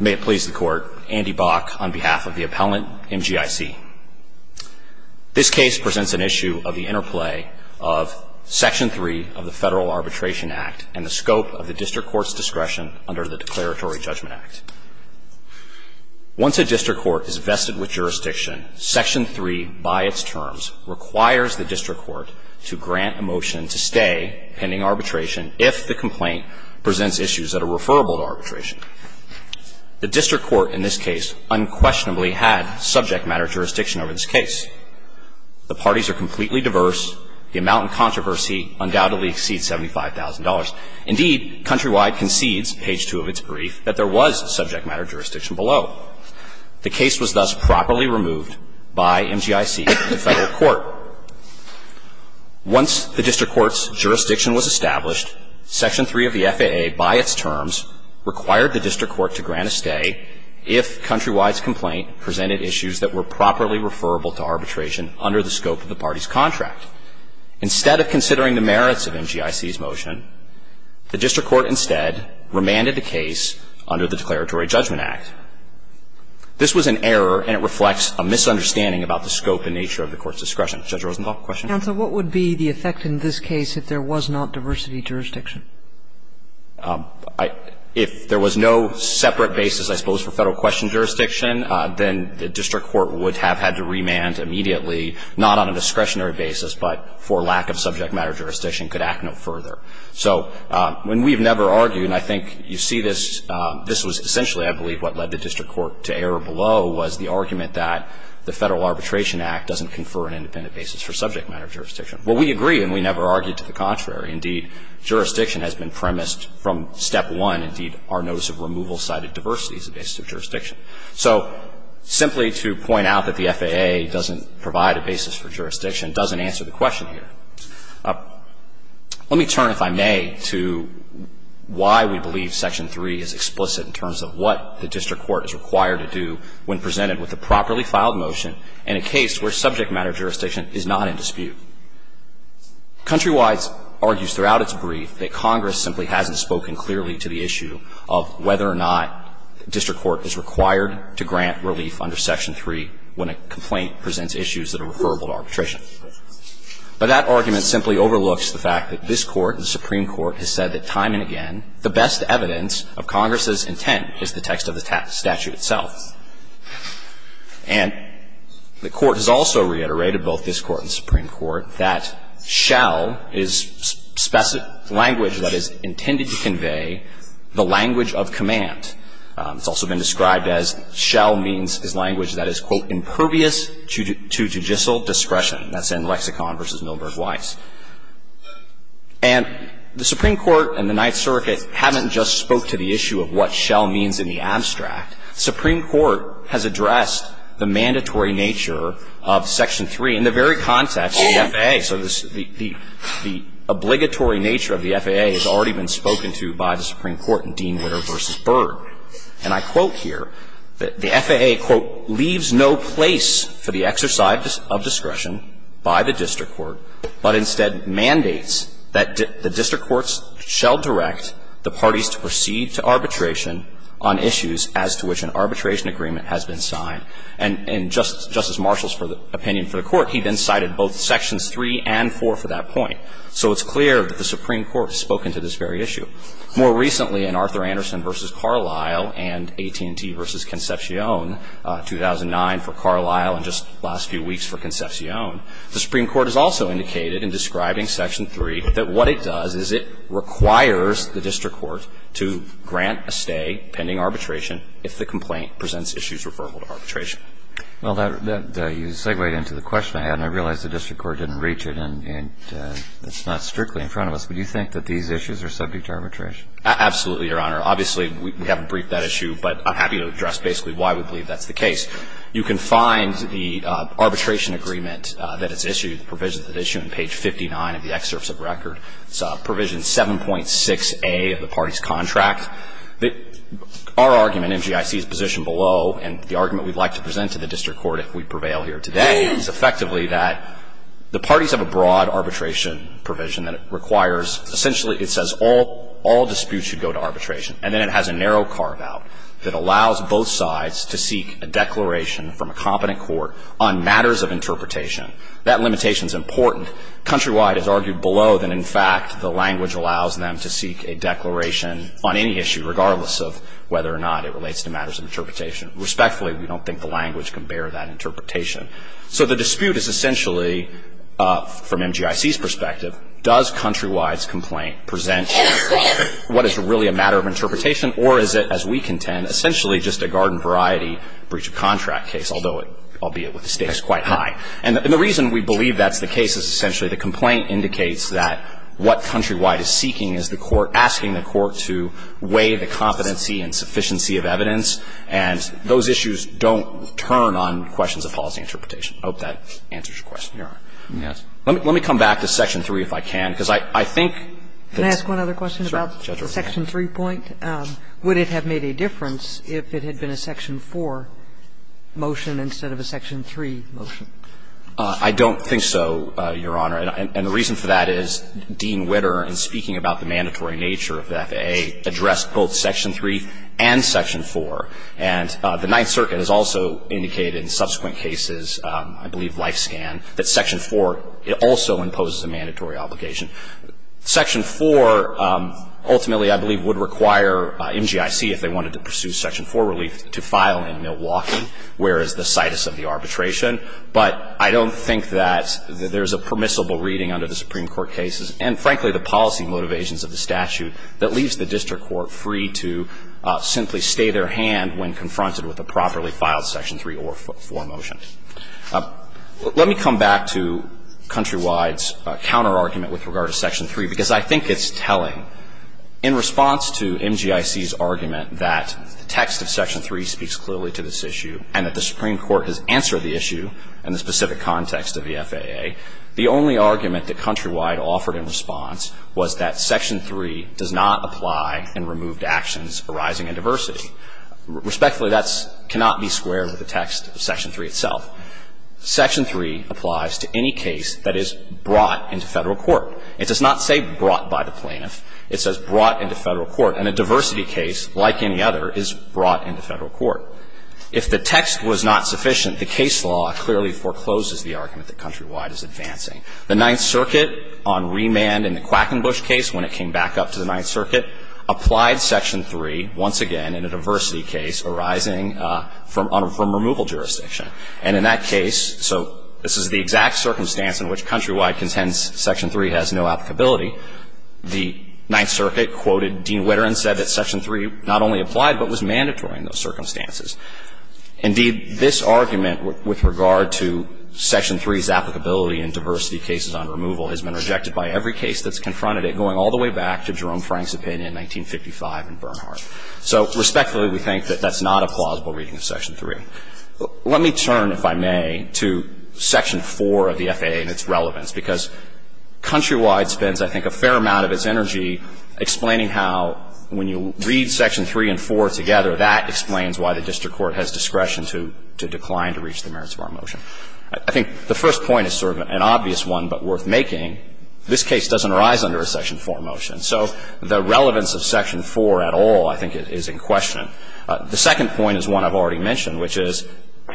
May it please the Court, Andy Bach on behalf of the appellant, MGIC. This case presents an issue of the interplay of Section 3 of the Federal Arbitration Act and the scope of the district court's discretion under the Declaratory Judgment Act. Once a district court is vested with jurisdiction, Section 3, by its terms, requires the district court to grant a motion to stay pending arbitration if the complaint presents issues that are referable to arbitration. The district court in this case unquestionably had subject matter jurisdiction over this case. The parties are completely diverse. The amount in controversy undoubtedly exceeds $75,000. Indeed, Countrywide concedes, page 2 of its brief, that there was subject matter jurisdiction below. The case was thus properly removed by MGIC and the Federal Court. Once the district court's jurisdiction was established, Section 3 of the FAA, by its terms, required the district court to grant a stay if Countrywide's complaint presented issues that were properly referable to arbitration under the scope of the party's contract. Instead of considering the merits of MGIC's motion, the district court instead remanded the case under the Declaratory Judgment Act. This was an error, and it reflects a misunderstanding about the scope and nature of the Court's discretion. Judge Rosenthal, question? Counsel, what would be the effect in this case if there was not diversity jurisdiction? If there was no separate basis, I suppose, for Federal question jurisdiction, then the district court would have had to remand immediately, not on a discretionary basis, but for lack of subject matter jurisdiction, could act no further. So when we've never argued, and I think you see this, this was essentially, I believe, what led the district court to err below was the argument that the Federal Arbitration Act doesn't confer an independent basis for subject matter jurisdiction. Well, we agree, and we never argued to the contrary. Indeed, jurisdiction has been premised from Step 1. Indeed, our notice of removal cited diversity as a basis of jurisdiction. So simply to point out that the FAA doesn't provide a basis for jurisdiction doesn't answer the question here. Let me turn, if I may, to why we believe Section 3 is explicit in terms of what the district court is required to do when presented with a properly filed motion in a case where subject matter jurisdiction is not in dispute. Countrywide argues throughout its brief that Congress simply hasn't spoken clearly to the issue of whether or not district court is required to grant relief under Section 3 when a complaint presents issues that are referable to arbitration. But that argument simply overlooks the fact that this Court, the Supreme Court, has said that, time and again, the best evidence of Congress's intent is the text of the statute itself. And the Court has also reiterated, both this Court and the Supreme Court, that shall is language that is intended to convey the language of command. It's also been described as shall means is language that is, quote, impervious to judicial discretion. That's in Lexicon v. Milberg Weiss. And the Supreme Court and the Ninth Circuit haven't just spoke to the issue of what shall means in the abstract. The Supreme Court has addressed the mandatory nature of Section 3 in the very context of the FAA. So the obligatory nature of the FAA has already been spoken to by the Supreme Court in Dean Witter v. Berg. And I quote here that the FAA, quote, And Justice Marshall's opinion for the Court, he then cited both Sections 3 and 4 for that point. So it's clear that the Supreme Court has spoken to this very issue. More recently, in Arthur Anderson v. Carlisle and AT&T v. Concepcion, 2000, the Supreme Court has spoken to this very issue. More recently, in Arthur Anderson v. Carlisle and AT&T v. Concepcion, 2000, the Supreme More recently, in Arthur Anderson v. Carlisle and AT&T v. Concepcion, 2009, for Carlisle and just last few weeks for Concepcion, the Supreme Court has also indicated in describing Section 3 that what it does is it requires the district court to grant a stay pending arbitration if the complaint presents issues referable to arbitration. Well, you segued into the question I had, and I realize the district court didn't reach it, and it's not strictly in front of us. But do you think that these issues are subject to arbitration? Absolutely, Your Honor. Obviously, we haven't briefed that issue, but I'm happy to address basically why we believe that's the case. You can find the arbitration agreement that it's issued, the provision that's issued on page 59 of the excerpts of record. It's Provision 7.6a of the party's contract. Our argument, MGIC's position below, and the argument we'd like to present to the district court if we prevail here today, is effectively that the parties have a broad arbitration provision that requires, essentially it says all disputes should go to arbitration, and then it has a narrow carve-out that allows both sides to seek a declaration from a competent court on matters of interpretation. That limitation is important. Countrywide has argued below that, in fact, the language allows them to seek a declaration on any issue, regardless of whether or not it relates to matters of interpretation. Respectfully, we don't think the language can bear that interpretation. So the dispute is essentially, from MGIC's perspective, does Countrywide's complaint present what is really a matter of interpretation, or is it, as we contend, essentially just a garden-variety breach-of-contract case, although, albeit with the stakes quite high. And the reason we believe that's the case is essentially the complaint indicates that what Countrywide is seeking is the court asking the court to weigh the competency and sufficiency of evidence. And those issues don't turn on questions of policy interpretation. I hope that answers your question, Your Honor. Let me come back to section 3 if I can, because I think that's the general plan. Sotomayor Can I ask one other question about the section 3 point? Would it have made a difference if it had been a section 4 motion instead of a section 3 motion? I don't think so, Your Honor. And the reason for that is Dean Witter, in speaking about the mandatory nature of the FAA, addressed both section 3 and section 4. And the Ninth Circuit has also indicated in subsequent cases, I believe Life Scan, that section 4 also imposes a mandatory obligation. Section 4 ultimately, I believe, would require MGIC, if they wanted to pursue section 4 relief, to file in Milwaukee, where is the situs of the arbitration. But I don't think that there's a permissible reading under the Supreme Court cases and, frankly, the policy motivations of the statute that leaves the district court free to simply stay their hand when confronted with a properly filed section 3 or 4 motion. Let me come back to Countrywide's counterargument with regard to section 3, because I think it's telling. In response to MGIC's argument that the text of section 3 speaks clearly to this issue and that the Supreme Court has answered the issue in the specific context of the FAA, the only argument that Countrywide offered in response was that section 3 does not apply in removed actions arising in diversity. Respectfully, that cannot be squared with the text of section 3 itself. Section 3 applies to any case that is brought into Federal court. It does not say brought by the plaintiff. It says brought into Federal court. And a diversity case, like any other, is brought into Federal court. If the text was not sufficient, the case law clearly forecloses the argument that Countrywide is advancing. The Ninth Circuit on remand in the Quackenbush case, when it came back up to the Ninth Circuit, applied section 3 once again in a diversity case arising from removal jurisdiction. And in that case, so this is the exact circumstance in which Countrywide contends section 3 has no applicability, the Ninth Circuit quoted Dean Witter and said that section 3 not only applied but was mandatory in those circumstances. Indeed, this argument with regard to section 3's applicability in diversity cases on removal has been rejected by every case that's confronted it, going all the way back to Jerome Frank's opinion in 1955 in Bernhardt. So respectfully, we think that that's not a plausible reading of section 3. Let me turn, if I may, to section 4 of the FAA and its relevance. Because Countrywide spends, I think, a fair amount of its energy explaining how, when you read section 3 and 4 together, that explains why the district court has discretion to decline to reach the merits of our motion. I think the first point is sort of an obvious one but worth making. This case doesn't arise under a section 4 motion. So the relevance of section 4 at all, I think, is in question. The second point is one I've already mentioned, which is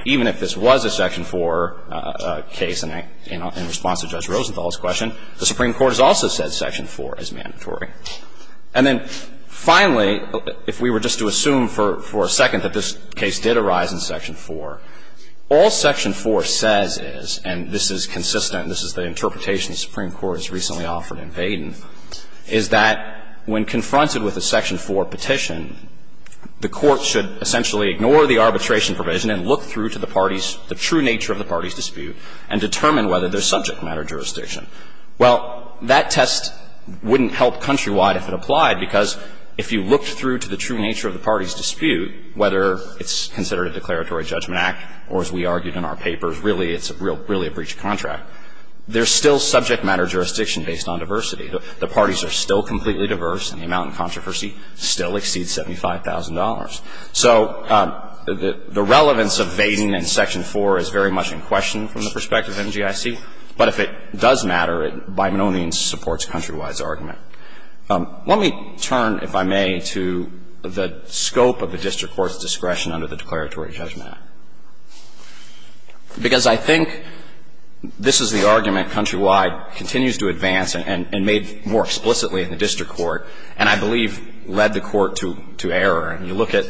even if this was a section 4 case in response to Judge Rosenthal's question, the Supreme Court has also said section 4 is mandatory. And then finally, if we were just to assume for a second that this case did arise in section 4, all section 4 says is, and this is consistent, this is the interpretation the Supreme Court has recently offered in Baden, is that when confronted with a section 4 petition, the court should essentially ignore the arbitration provision and look through to the parties, the true nature of the parties' dispute, and determine whether there's subject matter jurisdiction. Well, that test wouldn't help Countrywide if it applied, because if you looked through to the true nature of the parties' dispute, whether it's considered a declaratory judgment act or, as we argued in our papers, really it's a real, really a breach of contract, there's still subject matter jurisdiction based on diversity. The parties are still completely diverse, and the amount in controversy still exceeds $75,000. So the relevance of Baden in section 4 is very much in question from the perspective of MGIC, but if it does matter, it by no means supports Countrywide's argument. Let me turn, if I may, to the scope of the district court's discretion under the Declaratory Judgment Act, because I think this is the argument Countrywide continues to advance and made more explicitly in the district court, and I believe led the court to error.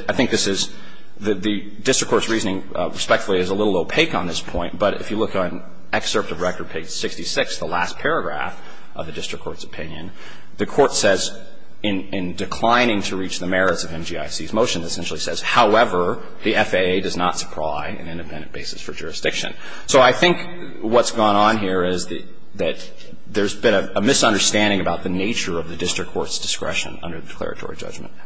I think this is the district court's reasoning, respectfully, is a little opaque on this point, but if you look on excerpt of record page 66, the last paragraph of the district court's opinion, the court says, in declining to reach the merits of MGIC's motion, essentially says, however, the FAA does not supply an independent basis for jurisdiction. So I think what's gone on here is that there's been a misunderstanding about the nature of the district court's discretion under the Declaratory Judgment Act.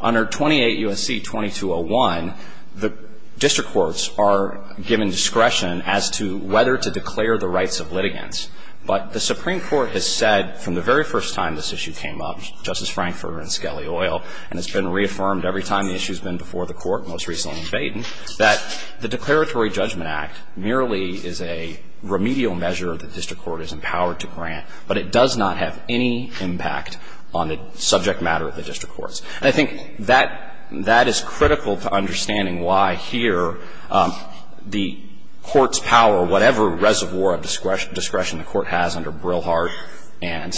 Under 28 U.S.C. 2201, the district courts are given discretion as to whether to declare the rights of litigants, but the Supreme Court has said from the very first time this issue came up, Justice Frankfurter and Skelly Oil, and it's been reaffirmed every time the issue's been before the Court, most recently in Baden, that the Declaratory Judgment Act merely is a remedial measure the district court is empowered to grant, but it does not have any impact on the subject matter of the district courts. And I think that is critical to understanding why here the court's power, whatever reservoir of discretion the court has under Brillhart and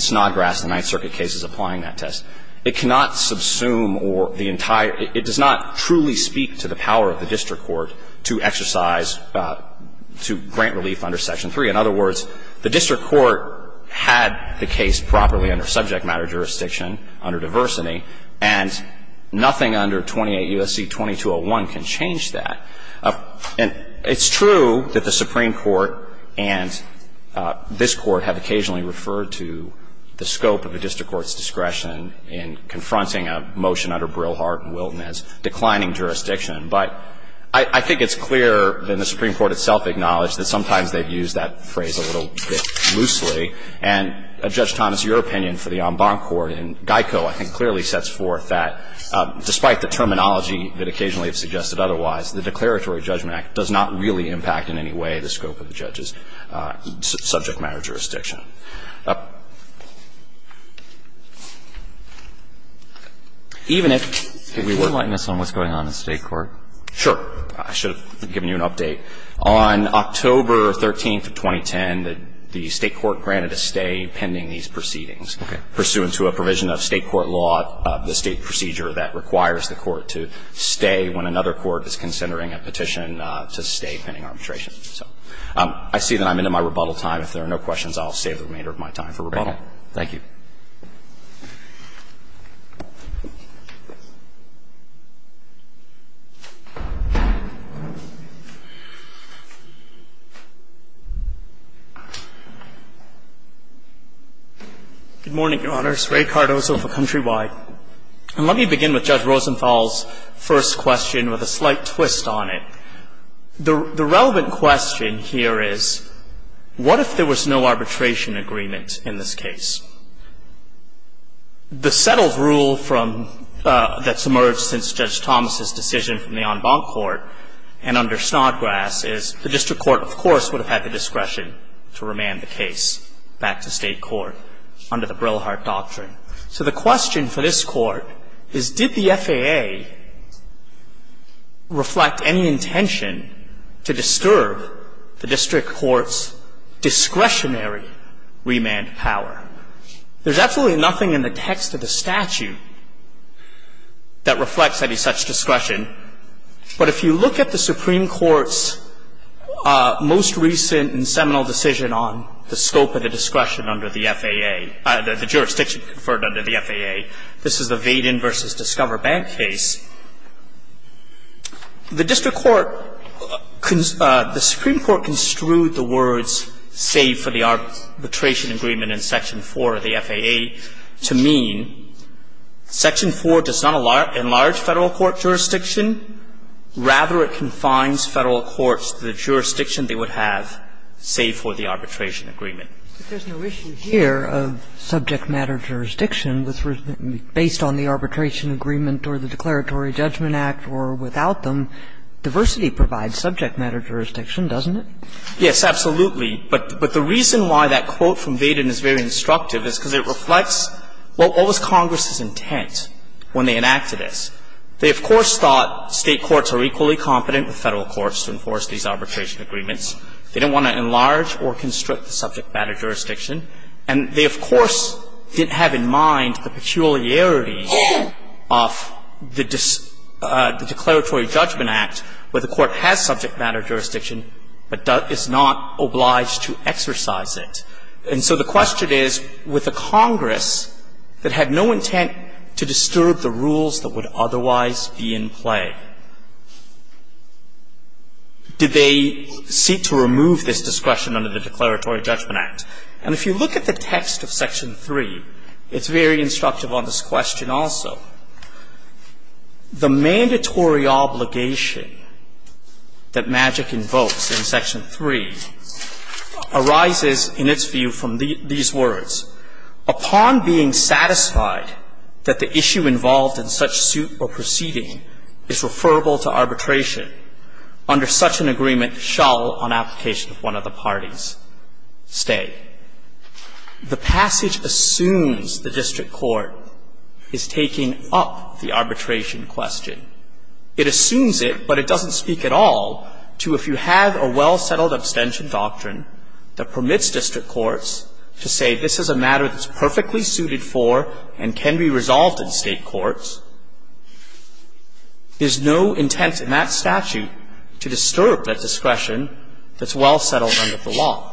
Snodgrass, the Ninth Circuit case is applying that test, it cannot subsume or the entire – it does not truly speak to the power of the district court to exercise, to grant relief under Section 3. In other words, the district court had the case properly under subject matter jurisdiction, under diversity, and nothing under 28 U.S.C. 2201 can change that. And it's true that the Supreme Court and this Court have occasionally referred to the scope of a district court's discretion in confronting a motion under Brillhart and Wilton as declining jurisdiction, but I think it's clear that the Supreme Court itself acknowledged that sometimes they've used that phrase a little bit loosely. And Judge Thomas, your opinion for the en banc court in Geico, I think, clearly sets forth that despite the terminology that occasionally is suggested otherwise, the Declaratory Judgment Act does not really impact in any way the scope of the judge's subject matter jurisdiction. Even if we were to – Can you enlighten us on what's going on in State court? Sure. I should have given you an update. On October 13th of 2010, the State court granted a stay pending these proceedings pursuant to a provision of State court law, the State procedure that requires the court to stay when another court is considering a petition to stay pending arbitration. So I see that I'm into my rebuttal time. If there are no questions, I'll save the remainder of my time for rebuttal. Thank you. Good morning, Your Honors. Ray Cardozo for Countrywide. And let me begin with Judge Rosenthal's first question with a slight twist on it. The relevant question here is what if there was no arbitration agreement in this case? The settled rule from – that's emerged since Judge Thomas's decision from the en banc court and under Snodgrass is the district court, of course, would have had the discretion to remand the case back to State court under the Brillhart doctrine. So the question for this Court is did the FAA reflect any intention to disturb the district court's discretionary remand power? There's absolutely nothing in the text of the statute that reflects any such discretion, but if you look at the Supreme Court's most recent and seminal decision on the scope of the discretion under the FAA – the jurisdiction conferred under the FAA, this is the Vaden v. Discover Bank case, the district court – the Supreme Court construed the words, save for the arbitration agreement in Section 4 of the FAA, to mean Section 4 does not enlarge Federal court jurisdiction. Rather, it confines Federal courts to the jurisdiction they would have, save for the arbitration agreement. remand power. But there's no issue here of subject matter jurisdiction based on the arbitration agreement or the Declaratory Judgment Act or without them. Diversity provides subject matter jurisdiction, doesn't it? Yes, absolutely. But the reason why that quote from Vaden is very instructive is because it reflects what was Congress's intent when they enacted this. They, of course, thought State courts are equally competent with Federal courts to enforce these arbitration agreements. They didn't want to enlarge or constrict the subject matter jurisdiction. And they, of course, didn't have in mind the peculiarities of the Declaratory Judgment Act where the court has subject matter jurisdiction but is not obliged to exercise it. And so the question is, with a Congress that had no intent to disturb the rules that would otherwise be in play, did they seek to remove this discretion under the Declaratory Judgment Act? And if you look at the text of Section 3, it's very instructive on this question also. The mandatory obligation that MAGIC invokes in Section 3 arises in its first instance And I'm going to quote a passage that I think is most illustrative to you from these words. Upon being satisfied that the issue involved in such suit or proceeding is referable to arbitration, under such an agreement shall, on application of one of the parties, stay. The passage assumes the district court is taking up the arbitration question. It assumes it, but it doesn't speak at all to if you have a well-settled abstention doctrine that permits district courts to say this is a matter that's perfectly suited for and can be resolved in State courts, there's no intent in that statute to disturb that discretion that's well-settled under the law.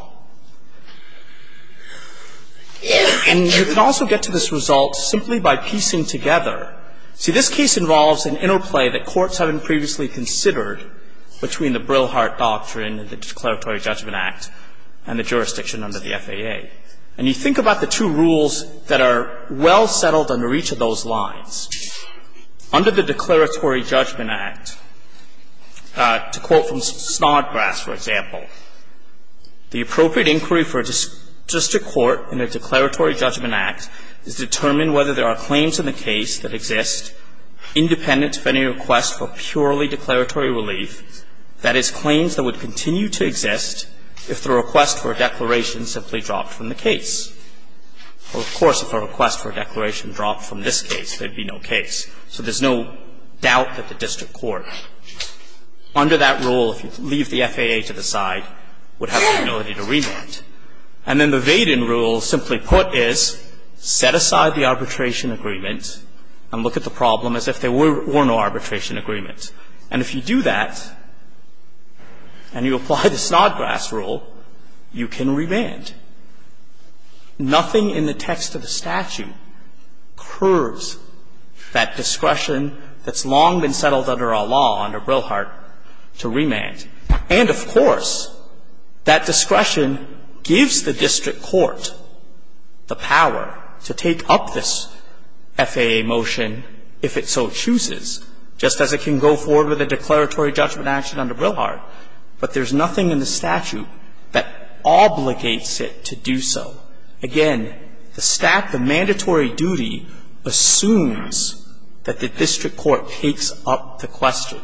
And you can also get to this result simply by piecing together. See, this case involves an interplay that courts haven't previously considered between the Brillhart Doctrine and the Declaratory Judgment Act and the jurisdiction under the FAA. And you think about the two rules that are well-settled under each of those lines. Under the Declaratory Judgment Act, to quote from Snodgrass, for example, the appropriate inquiry for a district court in a Declaratory Judgment Act is determined whether there are claims in the case that exist independent of any request for purely declaratory relief, that is, claims that would continue to exist if the request for a declaration simply dropped from the case. Well, of course, if a request for a declaration dropped from this case, there'd be no case. So there's no doubt that the district court under that rule, if you leave the FAA to the side, would have the ability to remand. And then the Vaden rule, simply put, is set aside the arbitration agreement and look at the problem as if there were no arbitration agreement. And if you do that and you apply the Snodgrass rule, you can remand. Nothing in the text of the statute curves that discretion that's long been settled under our law under Brilhart to remand. And, of course, that discretion gives the district court the power to take up this FAA motion if it so chooses, just as it can go forward with a declaratory judgment action under Brilhart. But there's nothing in the statute that obligates it to do so. Again, the staff, the mandatory duty assumes that the district court takes up the question.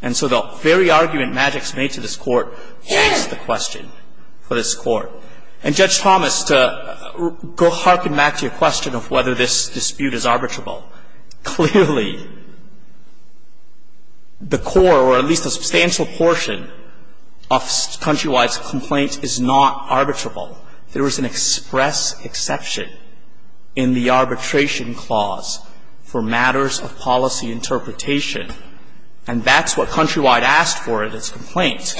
And so the very argument Maddox made to this Court takes the question for this Court. And, Judge Thomas, to harken back to your question of whether this dispute is arbitrable or not, I would say that that portion of Countrywide's complaint is not arbitrable. There is an express exception in the arbitration clause for matters of policy interpretation. And that's what Countrywide asked for in its complaint.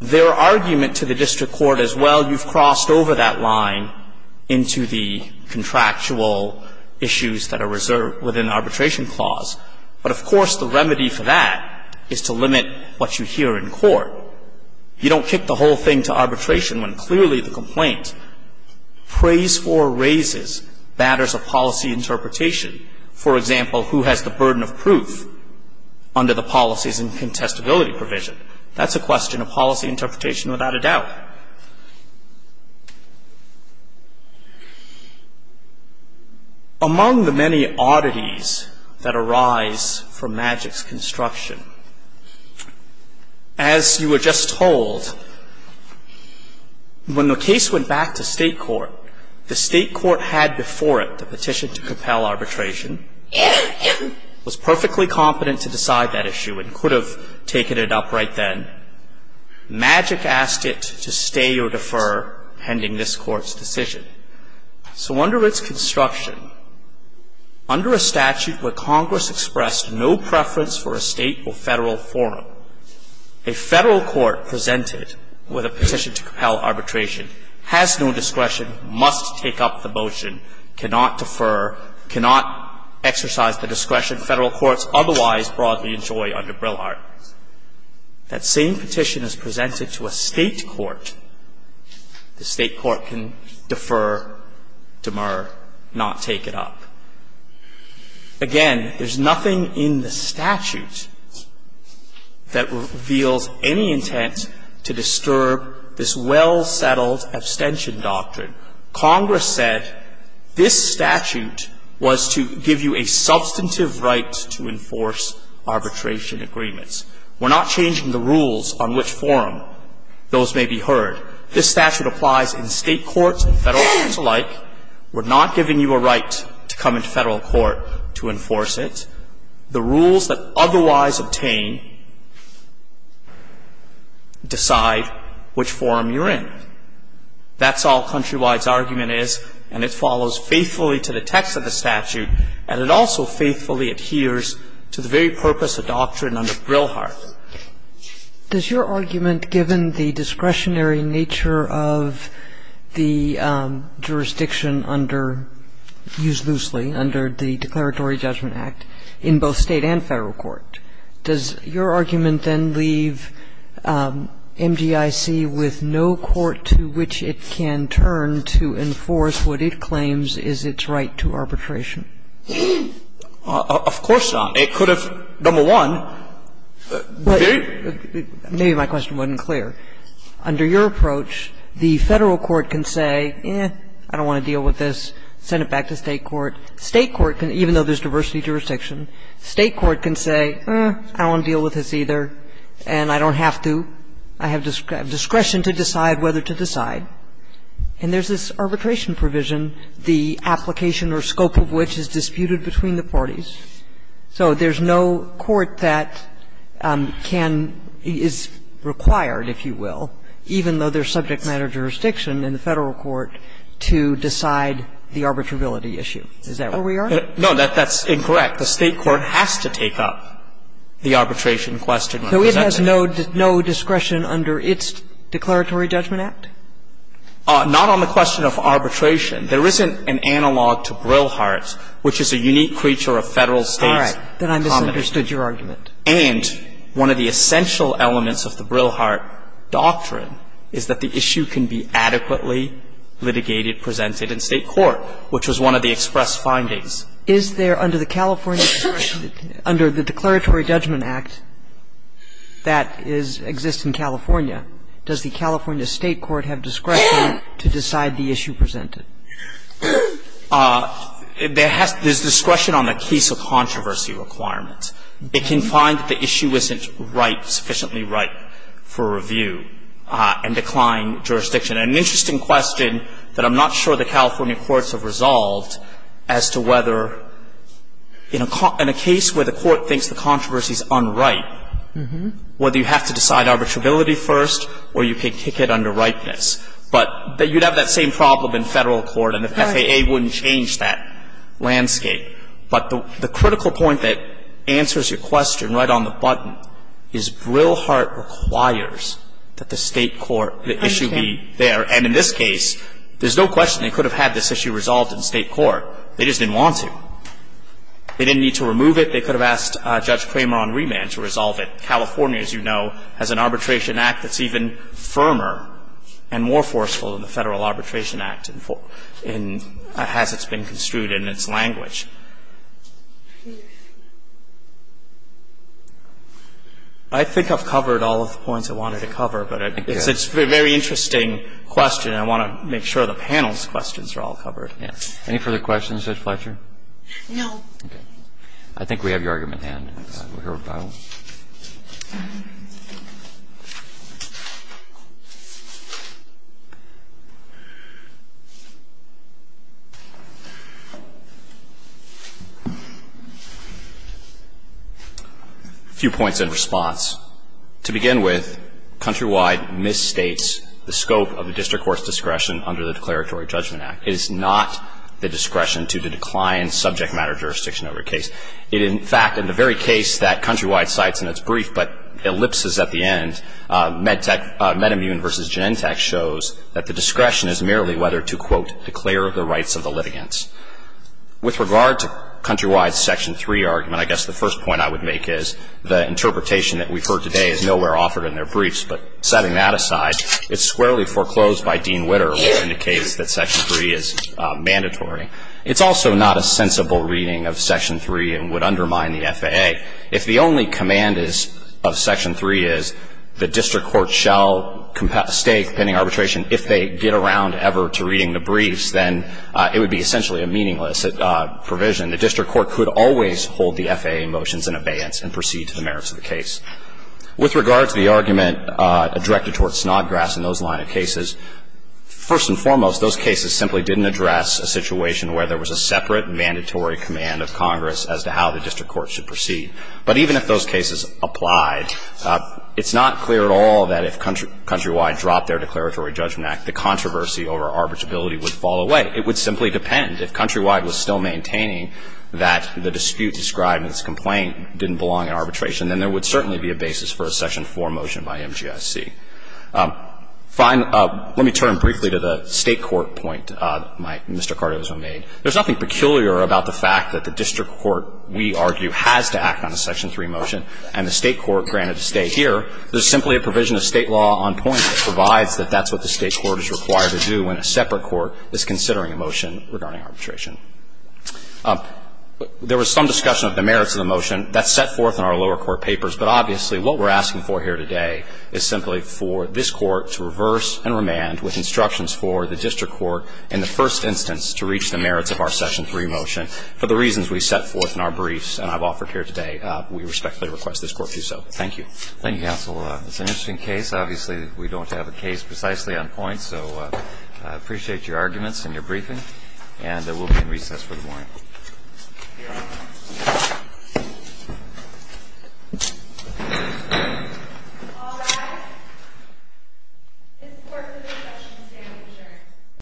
Their argument to the district court is, well, you've crossed over that line into the contractual issues that are reserved within the arbitration clause. But, of course, the remedy for that is to limit what you hear in court. You don't kick the whole thing to arbitration when clearly the complaint prays for or raises matters of policy interpretation. For example, who has the burden of proof under the policies and contestability provision? That's a question of policy interpretation without a doubt. Among the many oddities that arise from Maddox's construction, as you were just told, when the case went back to state court, the state court had before it the petition to compel arbitration, was perfectly competent to decide that issue and could have taken it up right then. Maddox asked it to stay or defer pending this Court's decision. So under its construction, under a statute where Congress expressed no preference for a state or federal forum, a federal court presented with a petition to compel arbitration has no discretion, must take up the motion, cannot defer, cannot exercise the discretion federal courts otherwise broadly enjoy under Brillhart. That same petition is presented to a state court. The state court can defer, demur, not take it up. Again, there's nothing in the statute that reveals any intent to disturb this well- settled abstention doctrine. Congress said this statute was to give you a substantive right to enforce arbitration agreements. We're not changing the rules on which forum those may be heard. This statute applies in state courts and federal courts alike. We're not giving you a right to come into federal court to enforce it. The rules that otherwise obtain decide which forum you're in. That's all Countrywide's argument is, and it follows faithfully to the text of the statute, and it also faithfully adheres to the very purpose of doctrine under Brillhart. Does your argument, given the discretionary nature of the jurisdiction under used loosely under the Declaratory Judgment Act in both state and federal courts, does your argument then leave MGIC with no court to which it can turn to enforce what it claims is its right to arbitration? Of course not. It could have, number one, very ---- Maybe my question wasn't clear. Under your approach, the federal court can say, eh, I don't want to deal with this, send it back to state court. State court can, even though there's diversity of jurisdiction, state court can say, eh, I don't want to deal with this either, and I don't have to. I have discretion to decide whether to decide. And there's this arbitration provision, the application or scope of which is disputed between the parties. So there's no court that can, is required, if you will, even though there's subject matter jurisdiction in the federal court, to decide the arbitrability issue. Is that where we are? No, that's incorrect. The state court has to take up the arbitration question when presented. So it has no discretion under its Declaratory Judgment Act? Not on the question of arbitration. There isn't an analog to Brillhart, which is a unique creature of Federal State commoners. All right. Then I misunderstood your argument. And one of the essential elements of the Brillhart doctrine is that the issue can be adequately litigated, presented in state court, which was one of the express findings. Is there, under the California, under the Declaratory Judgment Act that is, exists in California, does the California State Court have discretion to decide the issue presented? There has to be discretion on the case of controversy requirements. It can find that the issue isn't ripe, sufficiently ripe, for review and decline jurisdiction. And an interesting question that I'm not sure the California courts have resolved as to whether, in a case where the court thinks the controversy is unripe, whether you have to decide arbitrability first or you can kick it under ripeness. But you'd have that same problem in Federal court, and the FAA wouldn't change that landscape. But the critical point that answers your question right on the button is Brillhart requires that the state court, the issue be there. And in this case, there's no question they could have had this issue resolved in state court. They just didn't want to. They didn't need to remove it. They could have asked Judge Cramer on remand to resolve it. California, as you know, has an arbitration act that's even firmer and more forceful than the Federal Arbitration Act in as it's been construed in its language. I think I've covered all of the points I wanted to cover, but it's a very interesting question, and I want to make sure the panel's questions are all covered. Any further questions, Judge Fletcher? No. Okay. I think we have your argument at hand. A few points in response. To begin with, Countrywide misstates the scope of the district court's discretion under the Declaratory Judgment Act. It is not the discretion to decline subject matter jurisdiction over a case. It, in fact, in the very case that Countrywide cites in its brief, but ellipses at the end, Metamune v. Genentech shows that the discretion is merely whether to, quote, declare the rights of the litigants. With regard to Countrywide's Section 3 argument, I guess the first point I would make is the interpretation that we've heard today is nowhere offered in their briefs, but setting that aside, it's squarely foreclosed by Dean Witter, which indicates that Section 3 is mandatory. It's also not a sensible reading of Section 3 and would undermine the FAA. If the only command of Section 3 is the district court shall stay pending arbitration if they get around ever to reading the briefs, then it would be essentially a meaningless provision. The district court could always hold the FAA motions in abeyance and proceed to the merits of the case. With regard to the argument directed toward Snodgrass in those line of cases, first and foremost, those cases simply didn't address a situation where there was a separate mandatory command of Congress as to how the district court should proceed. But even if those cases applied, it's not clear at all that if Countrywide dropped their Declaratory Judgment Act, the controversy over arbitrability would fall away. It would simply depend, if Countrywide was still maintaining that the dispute described in its complaint didn't belong in arbitration, then there would certainly be a basis for a Section 4 motion by MGIC. Let me turn briefly to the State court point that Mr. Cardozo made. There's nothing peculiar about the fact that the district court, we argue, has to act on a Section 3 motion, and the State court, granted to stay here, there's simply a provision of State law on point that provides that that's what the State court is required to do when a separate court is considering a motion regarding arbitration. There was some discussion of the merits of the motion. That's set forth in our lower court papers. But obviously, what we're asking for here today is simply for this Court to reverse and remand with instructions for the district court in the first instance to reach the merits of our Section 3 motion. For the reasons we set forth in our briefs and I've offered here today, we respectfully request this Court do so. Thank you. Thank you, counsel. It's an interesting case. Obviously, we don't have a case precisely on point. So I appreciate your arguments and your briefing. And we'll be in recess for the morning. Thank you. All rise. This Court is in recess. You may be adjourned.